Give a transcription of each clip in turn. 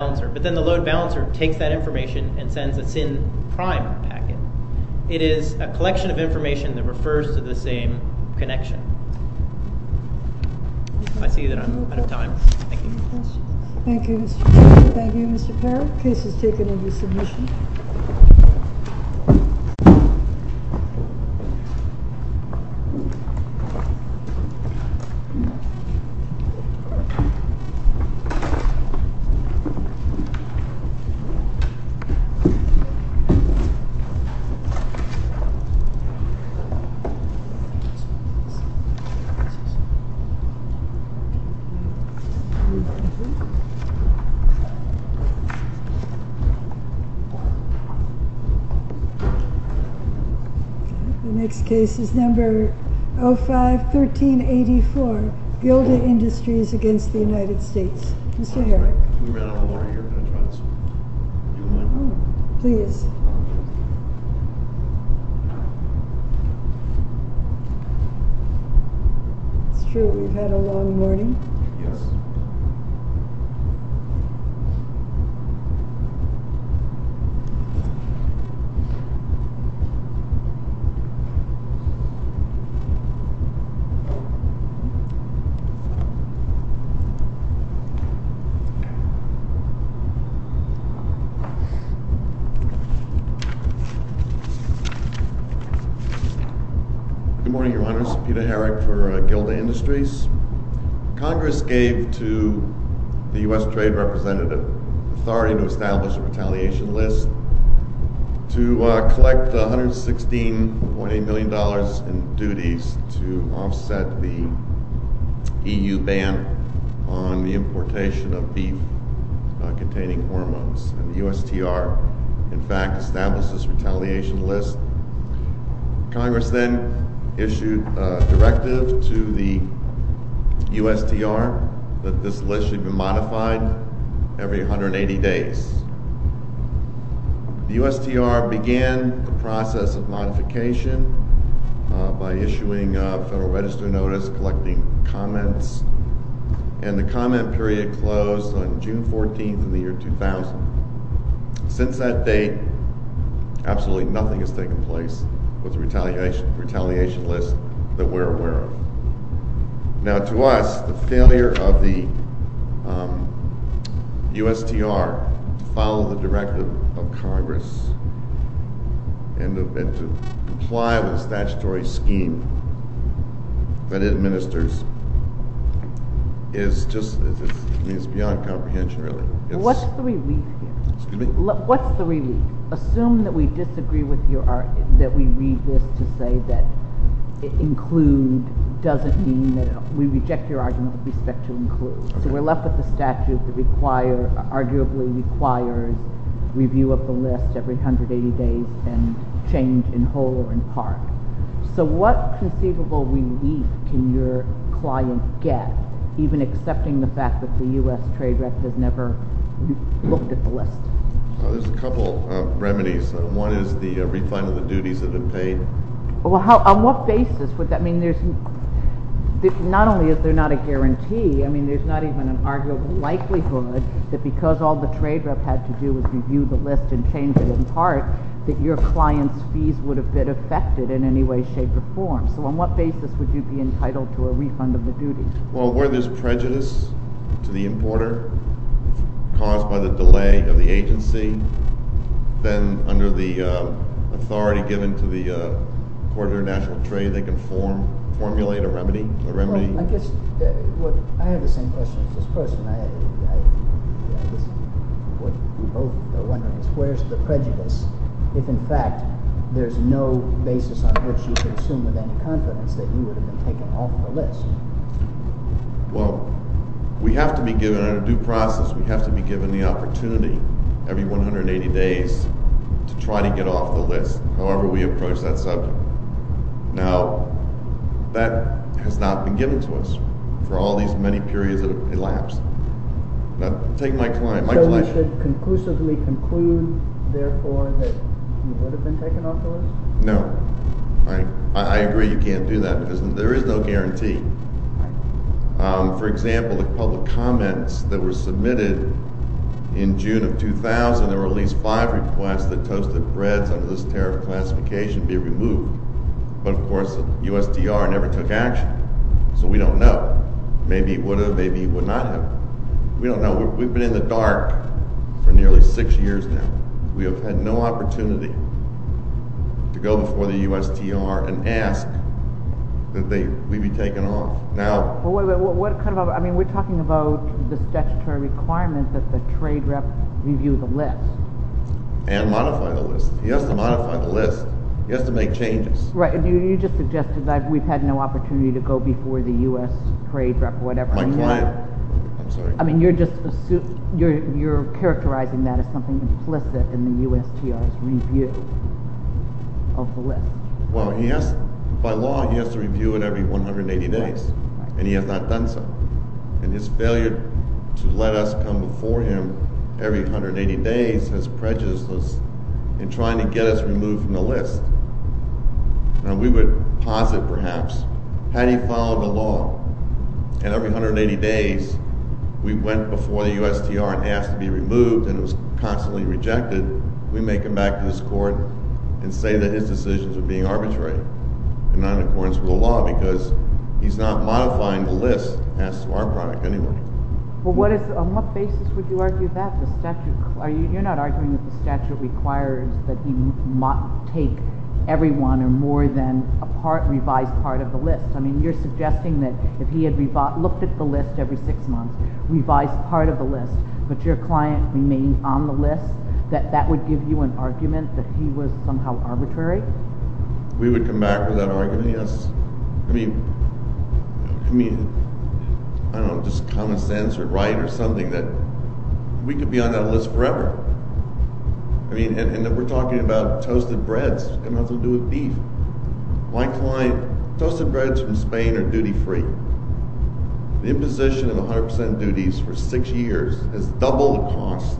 The load balancer takes that information and sends a SIN-prime packet. It is a collection of information that refers to the same connection. I see that I'm out of time. Thank you. Thank you, Mr. Perry. The case is taken into submission. The next case is number 05-1384, Gilda Industries v. United States. Mr. Herrick. Can we run out of water here in a few minutes? Please. It's true we've had a long morning. Good morning, Your Honors. Peter Herrick for Gilda Industries. Congress gave to the U.S. Trade Representative authority to establish a retaliation list to collect $116.8 million in duties to offset the EU ban on the importation of beef containing hormones. The USTR, in fact, established this retaliation list. Congress then issued a directive to the USTR that this list should be modified every 180 days. The USTR began the process of modification by issuing a Federal Register Notice collecting comments. The comment period closed on June 14, 2000. Since that date, absolutely nothing has taken place with the retaliation list that we're aware of. Now, to us, the failure of the USTR to follow the directive of Congress and to comply with the statutory scheme that it administers is just beyond comprehension, really. What's the relief here? Excuse me? What's the relief? Assume that we disagree with your argument, that we read this to say that include doesn't mean that. We reject your argument with respect to include. So we're left with the statute that arguably requires review of the list every 180 days and change in whole or in part. So what conceivable relief can your client get, even accepting the fact that the USTR has never looked at the list? There's a couple of remedies. One is the refinement of the duties that have been paid. On what basis? I mean, not only is there not a guarantee. I mean, there's not even an arguable likelihood that because all the trade rep had to do was review the list and change it in part, that your client's fees would have been affected in any way, shape, or form. So on what basis would you be entitled to a refund of the duties? Well, where there's prejudice to the importer caused by the delay of the agency, then under the authority given to the importer of national trade, they can formulate a remedy. Well, I guess I have the same question as this person. I guess what we both are wondering is where's the prejudice if, in fact, there's no basis on which you can assume with any confidence that you would have been taken off the list? Well, we have to be given, under due process, we have to be given the opportunity every 180 days to try to get off the list, however we approach that subject. Now, that has not been given to us for all these many periods that have elapsed. Now, take my client. So you should conclusively conclude, therefore, that you would have been taken off the list? No. All right. I agree you can't do that because there is no guarantee. For example, the public comments that were submitted in June of 2000, there were at least five requests that toasted breads under this tariff classification be removed. But, of course, the USDR never took action. So we don't know. Maybe it would have. Maybe it would not have. We don't know. We've been in the dark for nearly six years now. We have had no opportunity to go before the USDR and ask that we be taken off. Now— What kind of—I mean, we're talking about the statutory requirement that the trade rep review the list. And modify the list. He has to modify the list. He has to make changes. Right. You just suggested that we've had no opportunity to go before the U.S. trade rep or whatever. My client. I'm sorry. I mean, you're just—you're characterizing that as something implicit in the USDR's review of the list. Well, he has—by law, he has to review it every 180 days. Right. And he has not done so. And his failure to let us come before him every 180 days has prejudiced us in trying to get us removed from the list. Now, we would posit, perhaps, had he followed the law and every 180 days we went before the USDR and asked to be removed and it was constantly rejected, we make him back to this court and say that his decisions are being arbitrary in non-accordance with the law because he's not modifying the list as to our product anyway. Well, what is—on what basis would you argue that? You're not arguing that the statute requires that he take everyone or more than a revised part of the list. I mean, you're suggesting that if he had looked at the list every six months, revised part of the list, but your client remained on the list, that that would give you an argument that he was somehow arbitrary? We would come back with that argument, yes. I mean, I don't know, just common sense or right or something that we could be on that list forever. I mean, and we're talking about toasted breads having nothing to do with beef. My client—toasted breads from Spain are duty-free. The imposition of 100% duties for six years has doubled the cost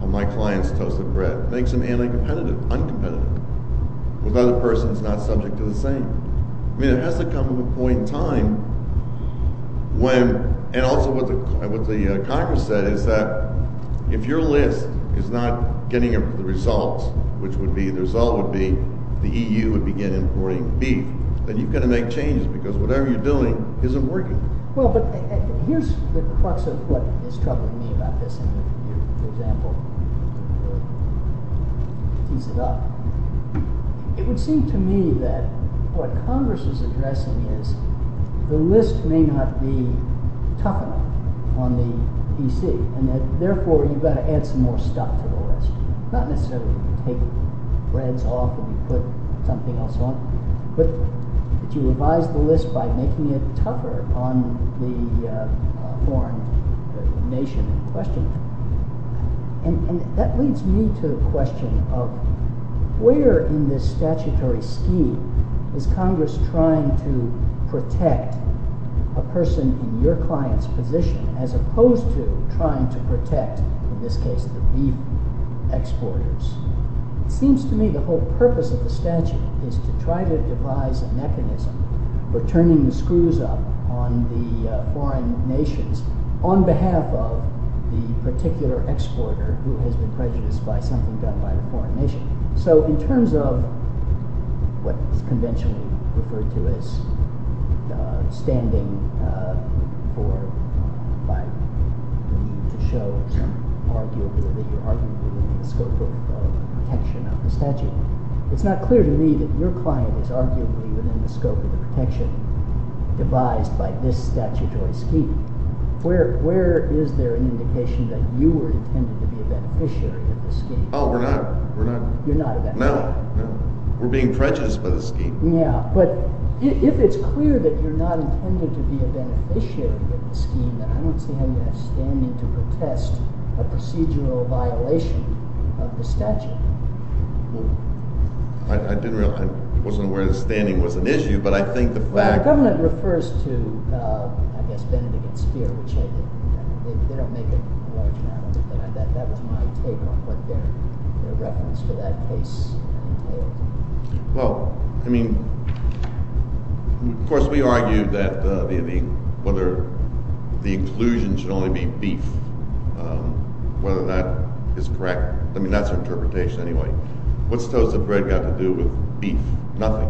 on my client's toasted bread. It makes him anti-competitive, uncompetitive with other persons not subject to the same. I mean, it has to come to a point in time when—and also what the Congress said is that if your list is not getting the results, which would be—the result would be the EU would begin importing beef. Then you've got to make changes because whatever you're doing isn't working. Well, but here's the crux of what is troubling me about this in your example. To tease it up, it would seem to me that what Congress is addressing is the list may not be tough enough on the EC, and that therefore you've got to add some more stuff to the list, not necessarily take breads off and put something else on, but that you revise the list by making it tougher on the foreign nation in question. And that leads me to the question of where in this statutory scheme is Congress trying to protect a person in your client's position as opposed to trying to protect, in this case, the beef exporters? It seems to me the whole purpose of the statute is to try to devise a mechanism for turning the screws up on the foreign nations on behalf of the particular exporter who has been prejudiced by something done by the foreign nation. So in terms of what is conventionally referred to as standing for—to show that you're arguably within the scope of protection of the statute, it's not clear to me that your client is arguably within the scope of the protection devised by this statutory scheme. Where is there an indication that you were intended to be a beneficiary of the scheme? Oh, we're not. You're not a beneficiary? No. We're being prejudiced by the scheme. Yeah, but if it's clear that you're not intended to be a beneficiary of the scheme, then I don't see how you have standing to protest a procedural violation of the statute. I didn't realize—I wasn't aware that standing was an issue, but I think the fact— Our government refers to, I guess, Bennet against Speer, which they don't make it a large matter, but that was my take on what their reference to that case entailed. Well, I mean, of course, we argued that the—whether the inclusion should only be beef, whether that is correct. I mean, that's our interpretation anyway. What's toast to bread got to do with beef? Nothing.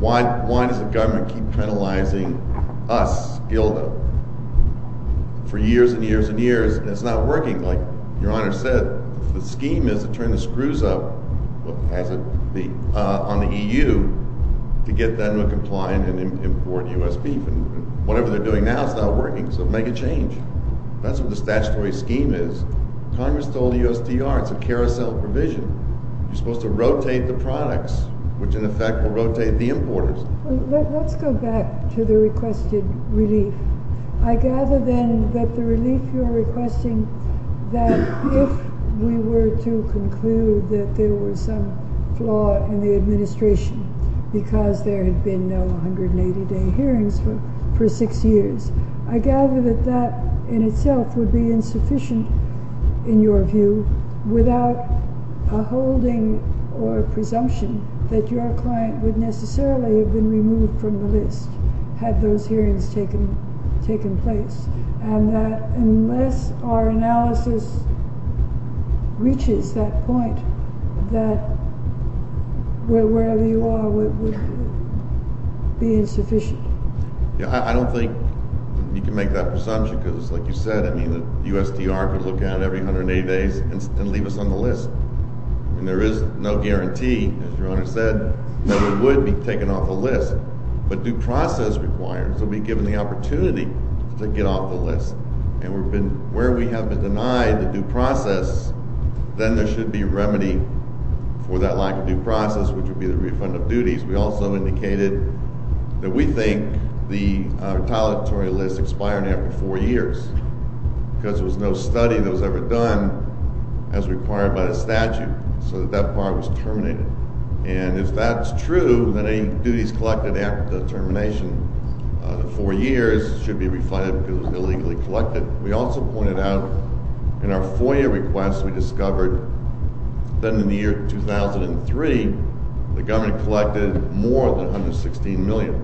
Why does the government keep penalizing us, GILDA, for years and years and years, and it's not working? Like your Honor said, the scheme is to turn the screws up on the EU to get them to comply and import U.S. beef, and whatever they're doing now is not working, so make a change. That's what the statutory scheme is. Congress told the USTR it's a carousel provision. You're supposed to rotate the products, which in effect will rotate the importers. Let's go back to the requested relief. I gather, then, that the relief you're requesting, that if we were to conclude that there was some flaw in the administration because there had been no 180-day hearings for six years, I gather that that in itself would be insufficient, in your view, without a holding or a presumption that your client would necessarily have been removed from the list had those hearings taken place, and that unless our analysis reaches that point, that wherever you are, it would be insufficient. I don't think you can make that presumption because, like you said, the USTR could look at every 180 days and leave us on the list. There is no guarantee, as your Honor said, that we would be taken off the list, but due process requires that we be given the opportunity to get off the list, and where we have been denied the due process, then there should be remedy for that lack of due process, which would be the refund of duties. We also indicated that we think the retaliatory list expired after four years because there was no study that was ever done as required by the statute so that that part was terminated, and if that's true, then any duties collected after the termination of the four years should be refunded because it was illegally collected. We also pointed out in our FOIA request, we discovered that in the year 2003, the government collected more than $116 million,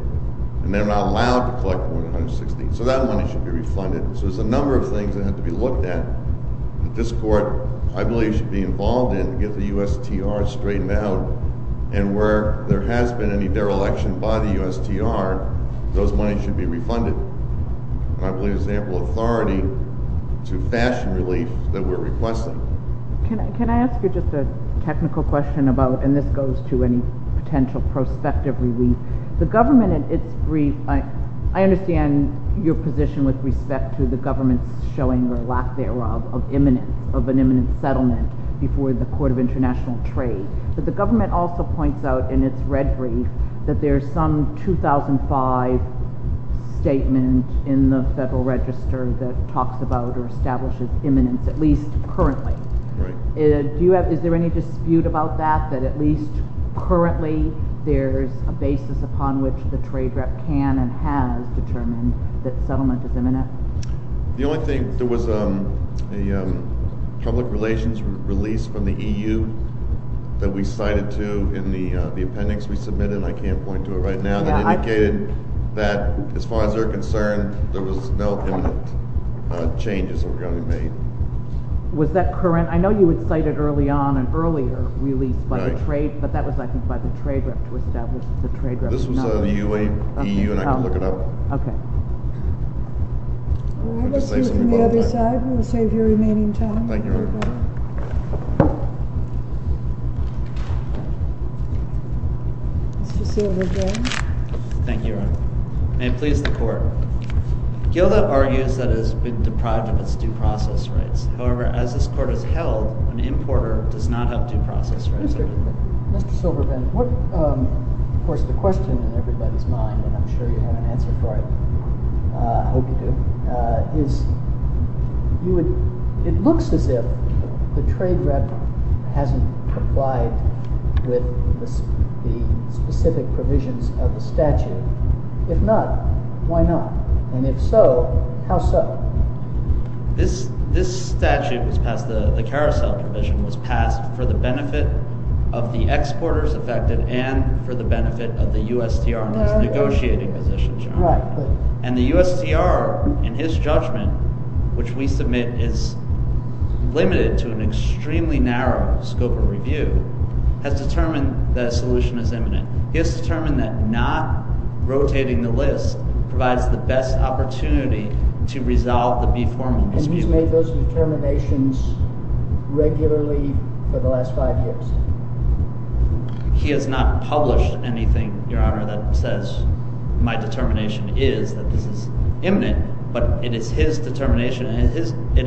and they're not allowed to collect more than $116 million, so that money should be refunded. There's a number of things that have to be looked at that this Court, I believe, should be involved in to get the USTR straightened out, and where there has been any dereliction by the USTR, those monies should be refunded. I believe there's ample authority to fashion relief that we're requesting. Can I ask you just a technical question about—and this goes to any potential prospective relief. The government, in its brief—I understand your position with respect to the government's showing or lack thereof of an imminent settlement before the Court of International Trade, but the government also points out in its red brief that there's some 2005 statement in the Federal Register that talks about or establishes imminence, at least currently. Is there any dispute about that, that at least currently there's a basis upon which the Trade Rep can and has determined that settlement is imminent? The only thing—there was a public relations release from the EU that we cited to in the appendix we submitted, and I can't point to it right now, that indicated that, as far as they're concerned, there was no imminent changes that were going to be made. Was that current? I know you had cited early on an earlier release by the Trade—but that was, I think, by the Trade Rep to establish that the Trade Rep did not— All right. Let's move to the other side. We'll save your remaining time. Thank you, Your Honor. Mr. Silberband. Thank you, Your Honor. May it please the Court. Gilda argues that it has been deprived of its due process rights. However, as this Court has held, an importer does not have due process rights. Mr. Silberband, of course, the question in everybody's mind, and I'm sure you have an answer for it—I hope you do—is it looks as if the Trade Rep hasn't complied with the specific provisions of the statute. If not, why not? And if so, how so? This statute was passed—the carousel provision was passed for the benefit of the exporters affected and for the benefit of the USTR in its negotiating position, Your Honor. And the USTR, in his judgment, which we submit is limited to an extremely narrow scope of review, has determined that a solution is imminent. He has determined that not rotating the list provides the best opportunity to resolve the B-formula dispute. And he's made those determinations regularly for the last five years? He has not published anything, Your Honor, that says my determination is that this is imminent. But it is his determination and it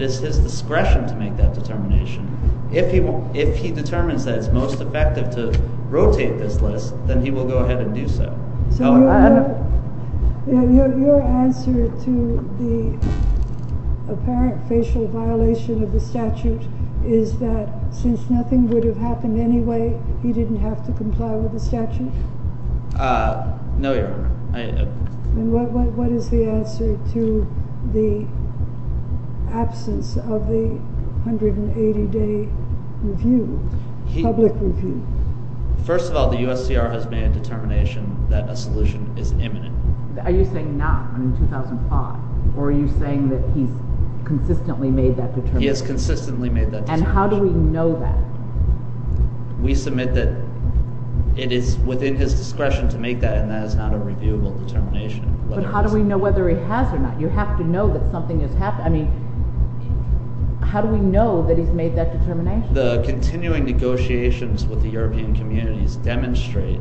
is his discretion to make that determination. If he determines that it's most effective to rotate this list, then he will go ahead and do so. So your answer to the apparent facial violation of the statute is that since nothing would have happened anyway, he didn't have to comply with the statute? No, Your Honor. And what is the answer to the absence of the 180-day review, public review? First of all, the USTR has made a determination that a solution is imminent. Are you saying not in 2005? Or are you saying that he's consistently made that determination? He has consistently made that determination. And how do we know that? We submit that it is within his discretion to make that, and that is not a reviewable determination. But how do we know whether he has or not? You have to know that something has happened. I mean, how do we know that he's made that determination? The continuing negotiations with the European communities demonstrate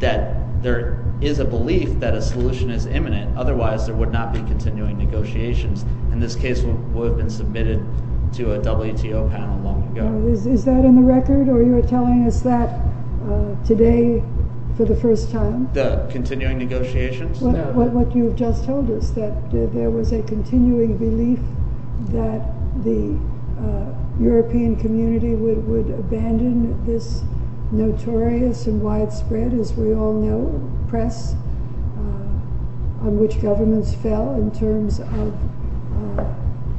that there is a belief that a solution is imminent. Otherwise, there would not be continuing negotiations. And this case would have been submitted to a WTO panel long ago. Is that on the record, or you're telling us that today for the first time? The continuing negotiations? What you've just told us, that there was a continuing belief that the European community would abandon this notorious and widespread, as we all know, press on which governments fell in terms of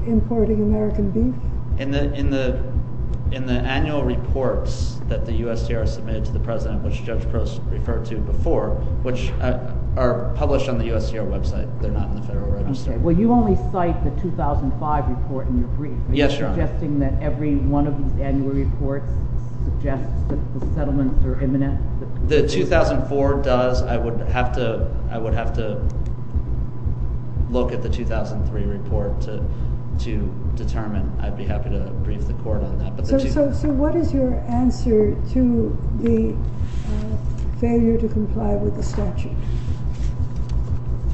importing American beef? In the annual reports that the USTR submitted to the president, which Judge Gross referred to before, which are published on the USTR website. They're not in the Federal Register. Well, you only cite the 2005 report in your brief. Yes, Your Honor. Are you suggesting that every one of these annual reports suggests that the settlements are imminent? The 2004 does. I would have to look at the 2003 report to determine. I'd be happy to brief the court on that. So what is your answer to the failure to comply with the statute?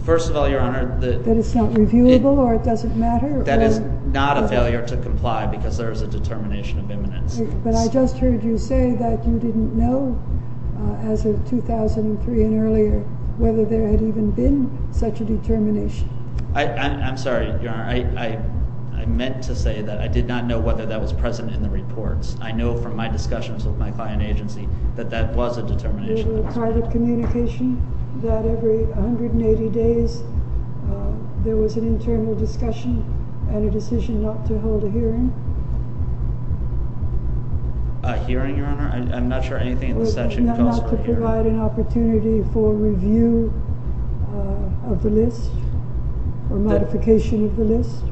First of all, Your Honor. That it's not reviewable or it doesn't matter? That is not a failure to comply because there is a determination of imminence. But I just heard you say that you didn't know, as of 2003 and earlier, whether there had even been such a determination. I'm sorry, Your Honor. I meant to say that I did not know whether that was present in the reports. I know from my discussions with my client agency that that was a determination. There was a private communication that every 180 days there was an internal discussion and a decision not to hold a hearing. A hearing, Your Honor? I'm not sure anything in the statute calls for a hearing. Not to provide an opportunity for review of the list or modification of the list?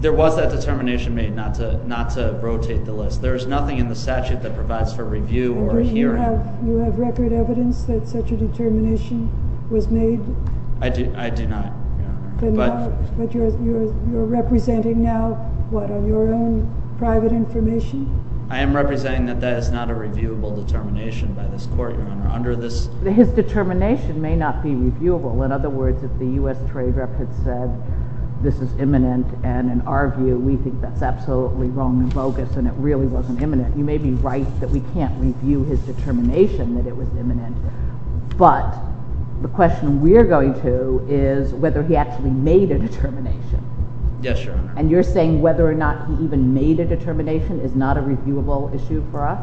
There was that determination made not to rotate the list. There is nothing in the statute that provides for review or a hearing. Do you have record evidence that such a determination was made? I do not, Your Honor. But you're representing now, what, on your own private information? I am representing that that is not a reviewable determination by this court, Your Honor. His determination may not be reviewable. In other words, if the U.S. Trade Rep had said this is imminent and, in our view, we think that's absolutely wrong and bogus and it really wasn't imminent, you may be right that we can't review his determination that it was imminent. But the question we're going to is whether he actually made a determination. Yes, Your Honor. And you're saying whether or not he even made a determination is not a reviewable issue for us?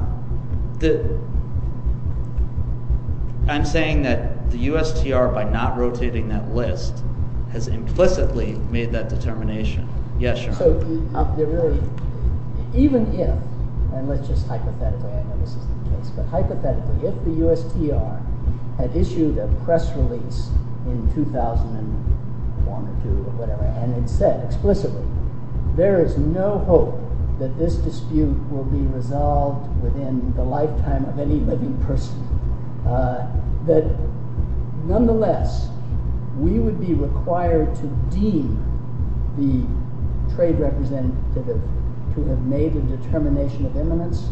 I'm saying that the USTR, by not rotating that list, has implicitly made that determination. Yes, Your Honor. Even if, and let's just hypothetically, I know this isn't the case, but hypothetically, if the USTR had issued a press release in 2001 or 2 or whatever and had said explicitly there is no hope that this dispute will be resolved within the lifetime of any living person, that nonetheless, we would be required to deem the trade representative to have made a determination of imminence?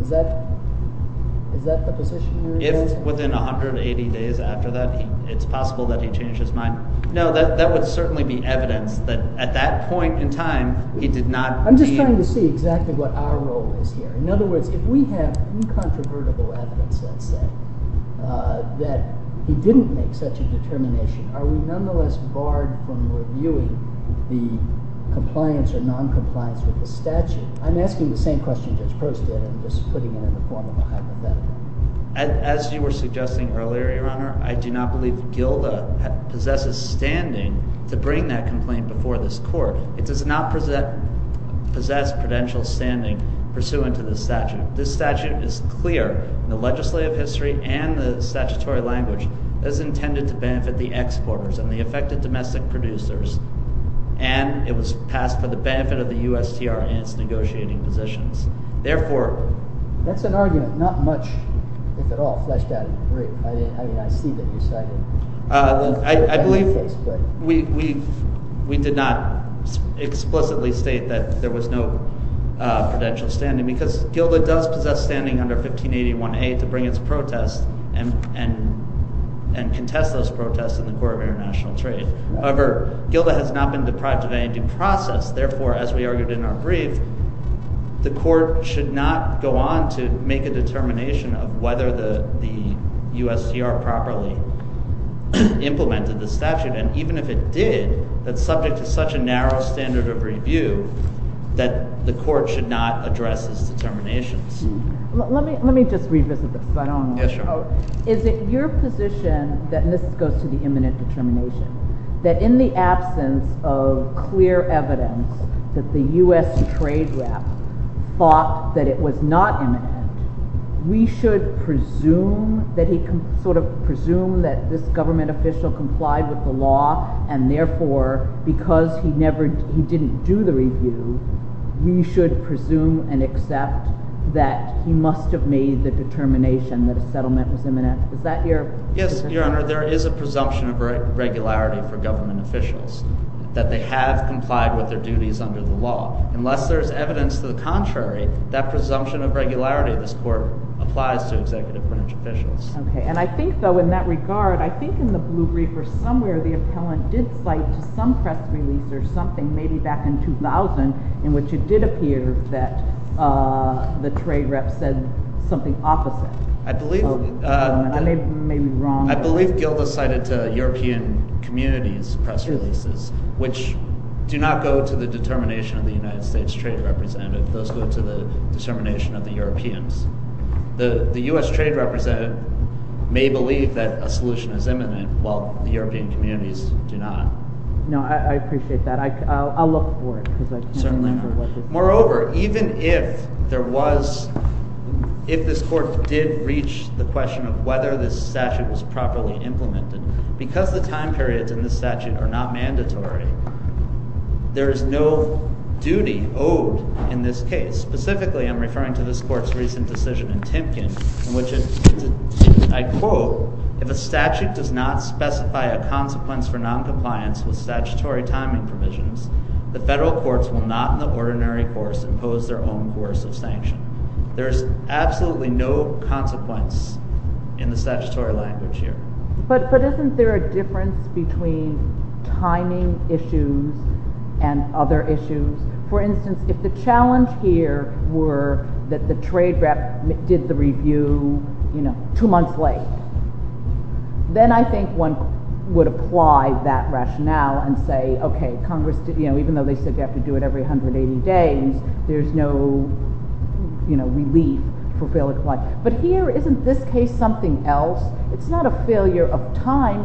Is that the position you're in? If within 180 days after that, it's possible that he changed his mind. No, that would certainly be evidence that at that point in time, he did not— I'm just trying to see exactly what our role is here. In other words, if we have incontrovertible evidence, let's say, that he didn't make such a determination, are we nonetheless barred from reviewing the compliance or noncompliance with the statute? I'm asking the same question Judge Prost did. I'm just putting it in the form of a hypothetical. As you were suggesting earlier, Your Honor, I do not believe GILDA possesses standing to bring that complaint before this court. It does not possess prudential standing pursuant to the statute. This statute is clear in the legislative history and the statutory language. It is intended to benefit the exporters and the affected domestic producers, and it was passed for the benefit of the USTR in its negotiating positions. Therefore— That's an argument. Not much, if at all, fleshed out in the brief. I mean, I see that you cited— I believe we did not explicitly state that there was no prudential standing because GILDA does possess standing under 1581A to bring its protest and contest those protests in the Court of International Trade. However, GILDA has not been deprived of any due process. Therefore, as we argued in our brief, the court should not go on to make a determination of whether the USTR properly implemented the statute. And even if it did, that's subject to such a narrow standard of review that the court should not address its determinations. Let me just revisit this because I don't understand. Yes, Your Honor. Is it your position that—and this goes to the imminent determination— that in the absence of clear evidence that the US trade rep thought that it was not imminent, we should presume that he—sort of presume that this government official complied with the law, and therefore, because he never—he didn't do the review, we should presume and accept that he must have made the determination that a settlement was imminent? Is that your position? Yes, Your Honor. There is a presumption of regularity for government officials that they have complied with their duties under the law. Unless there is evidence to the contrary, that presumption of regularity in this court applies to executive branch officials. Okay. And I think, though, in that regard, I think in the Blue Brief or somewhere, the appellant did cite to some press release or something, maybe back in 2000, in which it did appear that the trade rep said something opposite. I believe— I may be wrong. I believe Gilda cited to European communities press releases, which do not go to the determination of the United States trade representative. Those go to the determination of the Europeans. The U.S. trade representative may believe that a solution is imminent, while the European communities do not. No, I appreciate that. I'll look for it because I can't remember what the— Certainly not. Moreover, even if there was—if this court did reach the question of whether this statute was properly implemented, because the time periods in this statute are not mandatory, there is no duty owed in this case. Specifically, I'm referring to this court's recent decision in Timpkin, in which it—I quote, if a statute does not specify a consequence for noncompliance with statutory timing provisions, the federal courts will not in the ordinary course impose their own course of sanction. There is absolutely no consequence in the statutory language here. But isn't there a difference between timing issues and other issues? For instance, if the challenge here were that the trade rep did the review two months late, then I think one would apply that rationale and say, okay, Congress—even though they said you have to do it every 180 days, there's no relief for failure to comply. But here, isn't this case something else? It's not a failure of time.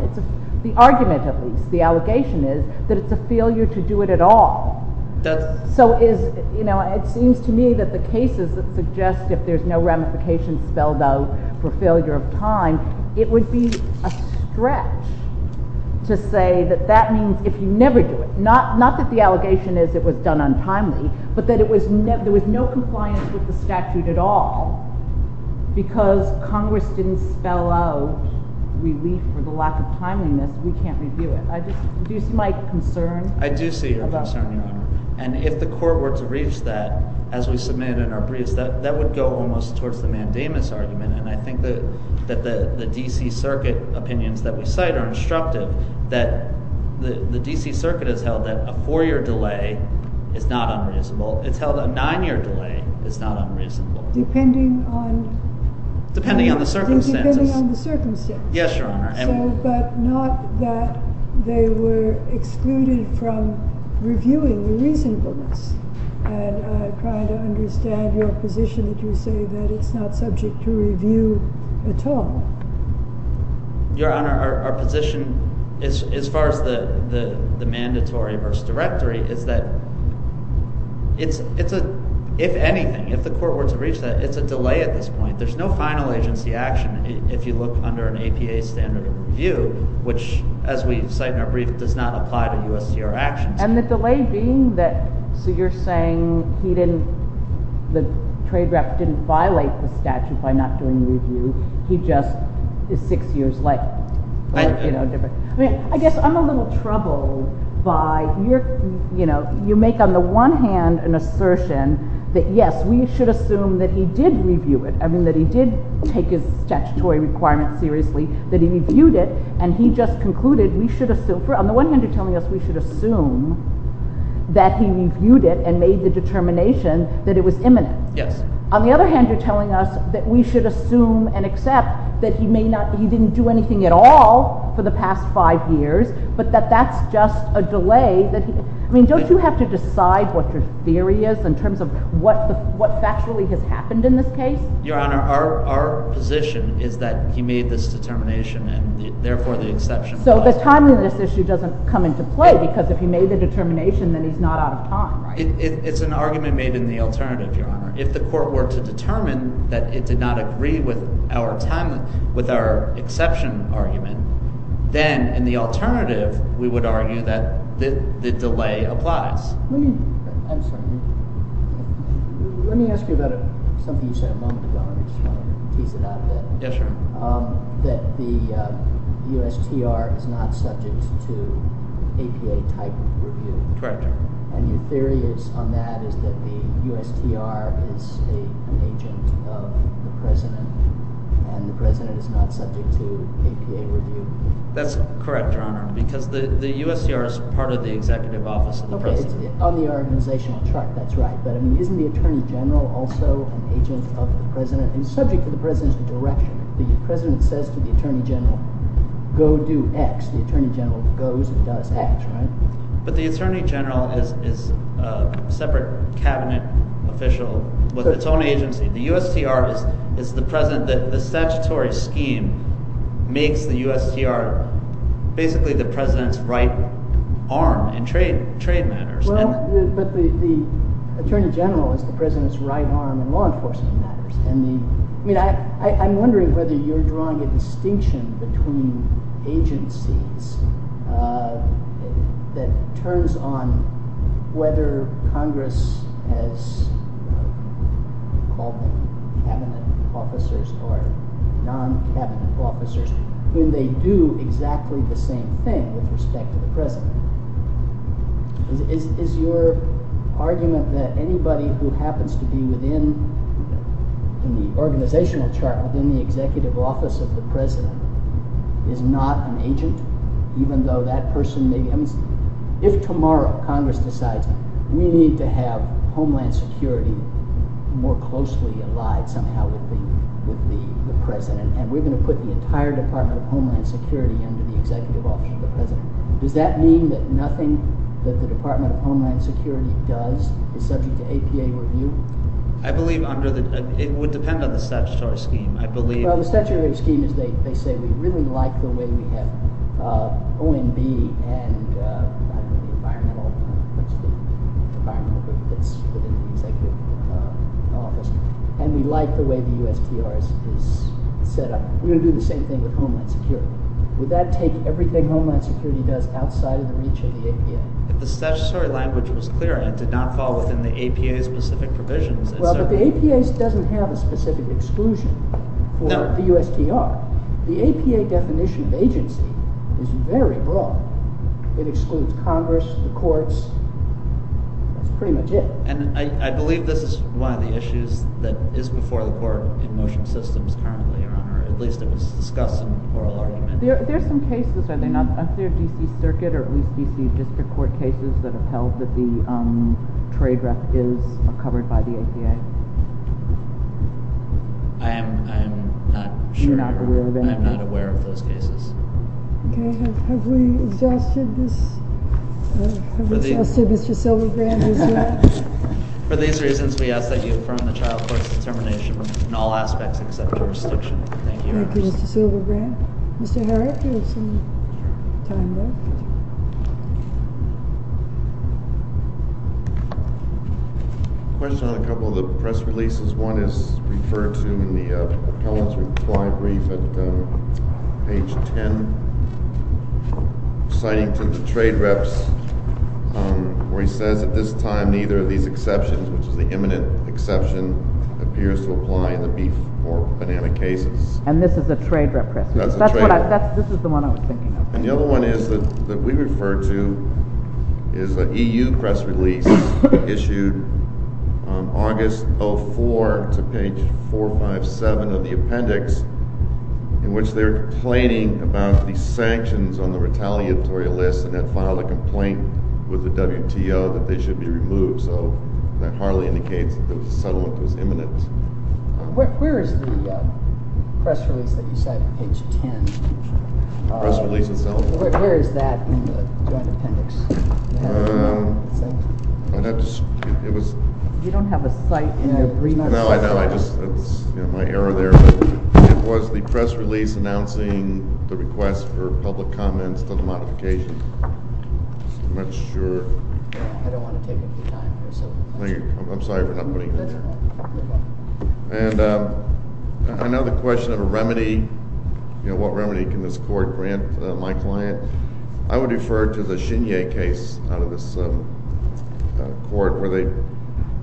The argument, at least, the allegation is that it's a failure to do it at all. So it seems to me that the cases that suggest if there's no ramification spelled out for failure of time, it would be a stretch to say that that means if you never do it—not that the allegation is it was done untimely, but that there was no compliance with the statute at all because Congress didn't spell out relief for the lack of timeliness, we can't review it. Do you see my concern? I do see your concern, Your Honor. And if the court were to reach that, as we submitted in our briefs, that would go almost towards the mandamus argument. And I think that the D.C. Circuit opinions that we cite are instructive that the D.C. Circuit has held that a four-year delay is not unreasonable. It's held a nine-year delay is not unreasonable. Depending on— Depending on the circumstances. Depending on the circumstances. Yes, Your Honor. But not that they were excluded from reviewing the reasonableness. And I'm trying to understand your position if you say that it's not subject to review at all. Your Honor, our position as far as the mandatory verse directory is that it's a—if anything, if the court were to reach that, it's a delay at this point. There's no final agency action if you look under an APA standard of review, which, as we cite in our brief, does not apply to U.S. CR actions. And the delay being that—so you're saying he didn't—the trade rep didn't violate the statute by not doing review. He just is six years late. I guess I'm a little troubled by your—you make, on the one hand, an assertion that, yes, we should assume that he did review it. I mean that he did take his statutory requirements seriously, that he reviewed it, and he just concluded we should assume—on the one hand, you're telling us we should assume that he reviewed it and made the determination that it was imminent. Yes. On the other hand, you're telling us that we should assume and accept that he may not—he didn't do anything at all for the past five years, but that that's just a delay that he— I mean, don't you have to decide what your theory is in terms of what factually has happened in this case? Your Honor, our position is that he made this determination and, therefore, the exception— So the timing of this issue doesn't come into play because if he made the determination, then he's not out of time, right? It's an argument made in the alternative, Your Honor. If the court were to determine that it did not agree with our time—with our exception argument, then in the alternative, we would argue that the delay applies. Let me ask you about something you said a moment ago, and I just want to tease it out a bit. Yes, Your Honor. That the USTR is not subject to APA-type review. Correct, Your Honor. And your theory on that is that the USTR is an agent of the President, and the President is not subject to APA review. That's correct, Your Honor, because the USTR is part of the executive office of the President. On the organizational chart, that's right. But, I mean, isn't the Attorney General also an agent of the President? And subject to the President's direction, the President says to the Attorney General, go do X. The Attorney General goes and does X, right? But the Attorney General is a separate cabinet official with its own agency. The USTR is the President—the statutory scheme makes the USTR basically the President's right arm in trade matters. But the Attorney General is the President's right arm in law enforcement matters. I'm wondering whether you're drawing a distinction between agencies that turns on whether Congress has called them cabinet officers or non-cabinet officers when they do exactly the same thing with respect to the President. Is your argument that anybody who happens to be within the organizational chart, within the executive office of the President, is not an agent? Even though that person—if tomorrow Congress decides we need to have Homeland Security more closely allied somehow with the President and we're going to put the entire Department of Homeland Security under the executive office of the President, does that mean that nothing that the Department of Homeland Security does is subject to APA review? I believe under the—it would depend on the statutory scheme. I believe— Well, the statutory scheme is they say we really like the way we have OMB and environmental— what's the environmental group that's within the executive office, and we like the way the USTR is set up. We're going to do the same thing with Homeland Security. Would that take everything Homeland Security does outside of the reach of the APA? If the statutory language was clear and it did not fall within the APA's specific provisions— Well, but the APA doesn't have a specific exclusion for the USTR. The APA definition of agency is very broad. It excludes Congress, the courts. That's pretty much it. And I believe this is one of the issues that is before the court in motion systems currently, Your Honor. At least it was discussed in the oral argument. There are some cases, are they not? Is there a D.C. Circuit or at least D.C. District Court cases that have held that the trade rep is covered by the APA? I am not sure. You're not aware of any? I'm not aware of those cases. Okay. Have we exhausted this? Have we exhausted Mr. Silverbrand as well? For these reasons, we ask that you affirm the child court's determination in all aspects except jurisdiction. Thank you, Your Honor. Thank you, Mr. Silverbrand. Mr. Herrick, you have some time left. Question on a couple of the press releases. One is referred to in the appellate's reply brief at page 10, citing to the trade reps where he says, at this time, neither of these exceptions, which is the imminent exception, appears to apply in the beef or banana cases. And this is a trade rep press release? That's a trade rep. This is the one I was thinking of. And the other one is that we refer to is a E.U. press release issued on August 04 to page 457 of the appendix in which they're complaining about the sanctions on the retaliatory list and then filed a complaint with the WTO that they should be removed. So that hardly indicates that the settlement was imminent. Where is the press release that you cite at page 10? The press release itself. Where is that in the joint appendix? You don't have a cite in your brief? No, I don't. That's my error there. It was the press release announcing the request for public comments to the modification. I'm not sure. I don't want to take up your time here. Thank you. I'm sorry for not putting it there. You're welcome. And I know the question of a remedy. You know, what remedy can this court grant my client? I would refer to the Shinye case out of this court where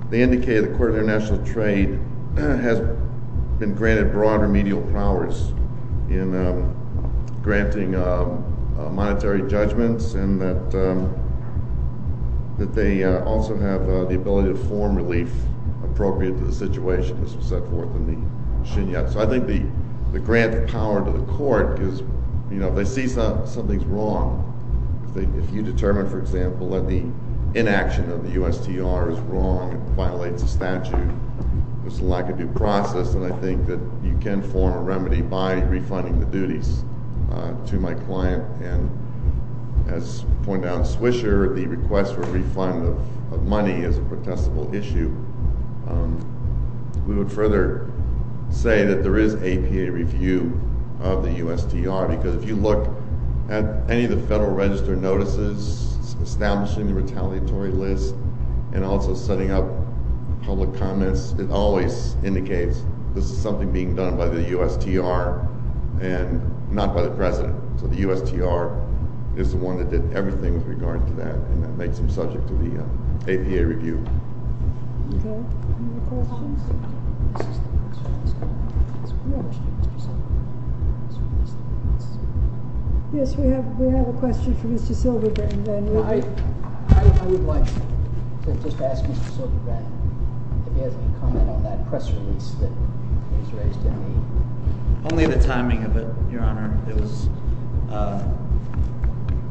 they indicated the Court of International Trade has been granted broader remedial powers in granting monetary judgments and that they also have the ability to form relief appropriate to the situation as was set forth in the Shinye. So I think the grant of power to the court is, you know, if they see something's wrong, if you determine, for example, that the inaction of the USTR is wrong and violates the statute, there's a lack of due process. And I think that you can form a remedy by refunding the duties to my client. And as pointed out in Swisher, the request for refund of money is a protestable issue. We would further say that there is APA review of the USTR because if you look at any of the Federal Register notices establishing the retaliatory list and also setting up public comments, it always indicates this is something being done by the USTR and not by the President. So the USTR is the one that did everything with regard to that, and that makes them subject to the APA review. Any other questions? Yes, we have a question for Mr. Silverbrand. I would like to just ask Mr. Silverbrand if he has any comment on that press release that was raised in the meeting. Only the timing of it, Your Honor. It was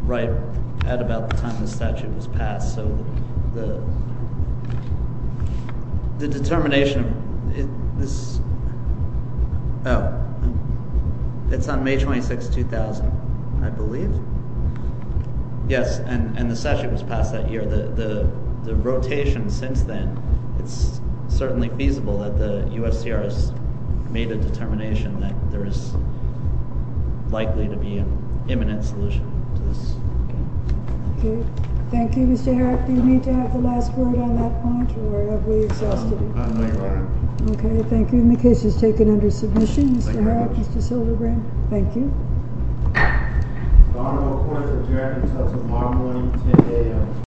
right at about the time the statute was passed. So the determination, oh, it's on May 26, 2000, I believe. Yes, and the statute was passed that year. The rotation since then, it's certainly feasible that the USTR has made a determination that there is likely to be an imminent solution to this. Thank you, Mr. Herrick. Do you need to have the last word on that point, or have we exhausted it? No, Your Honor. Okay, thank you. And the case is taken under submission, Mr. Herrick, Mr. Silverbrand. Thank you.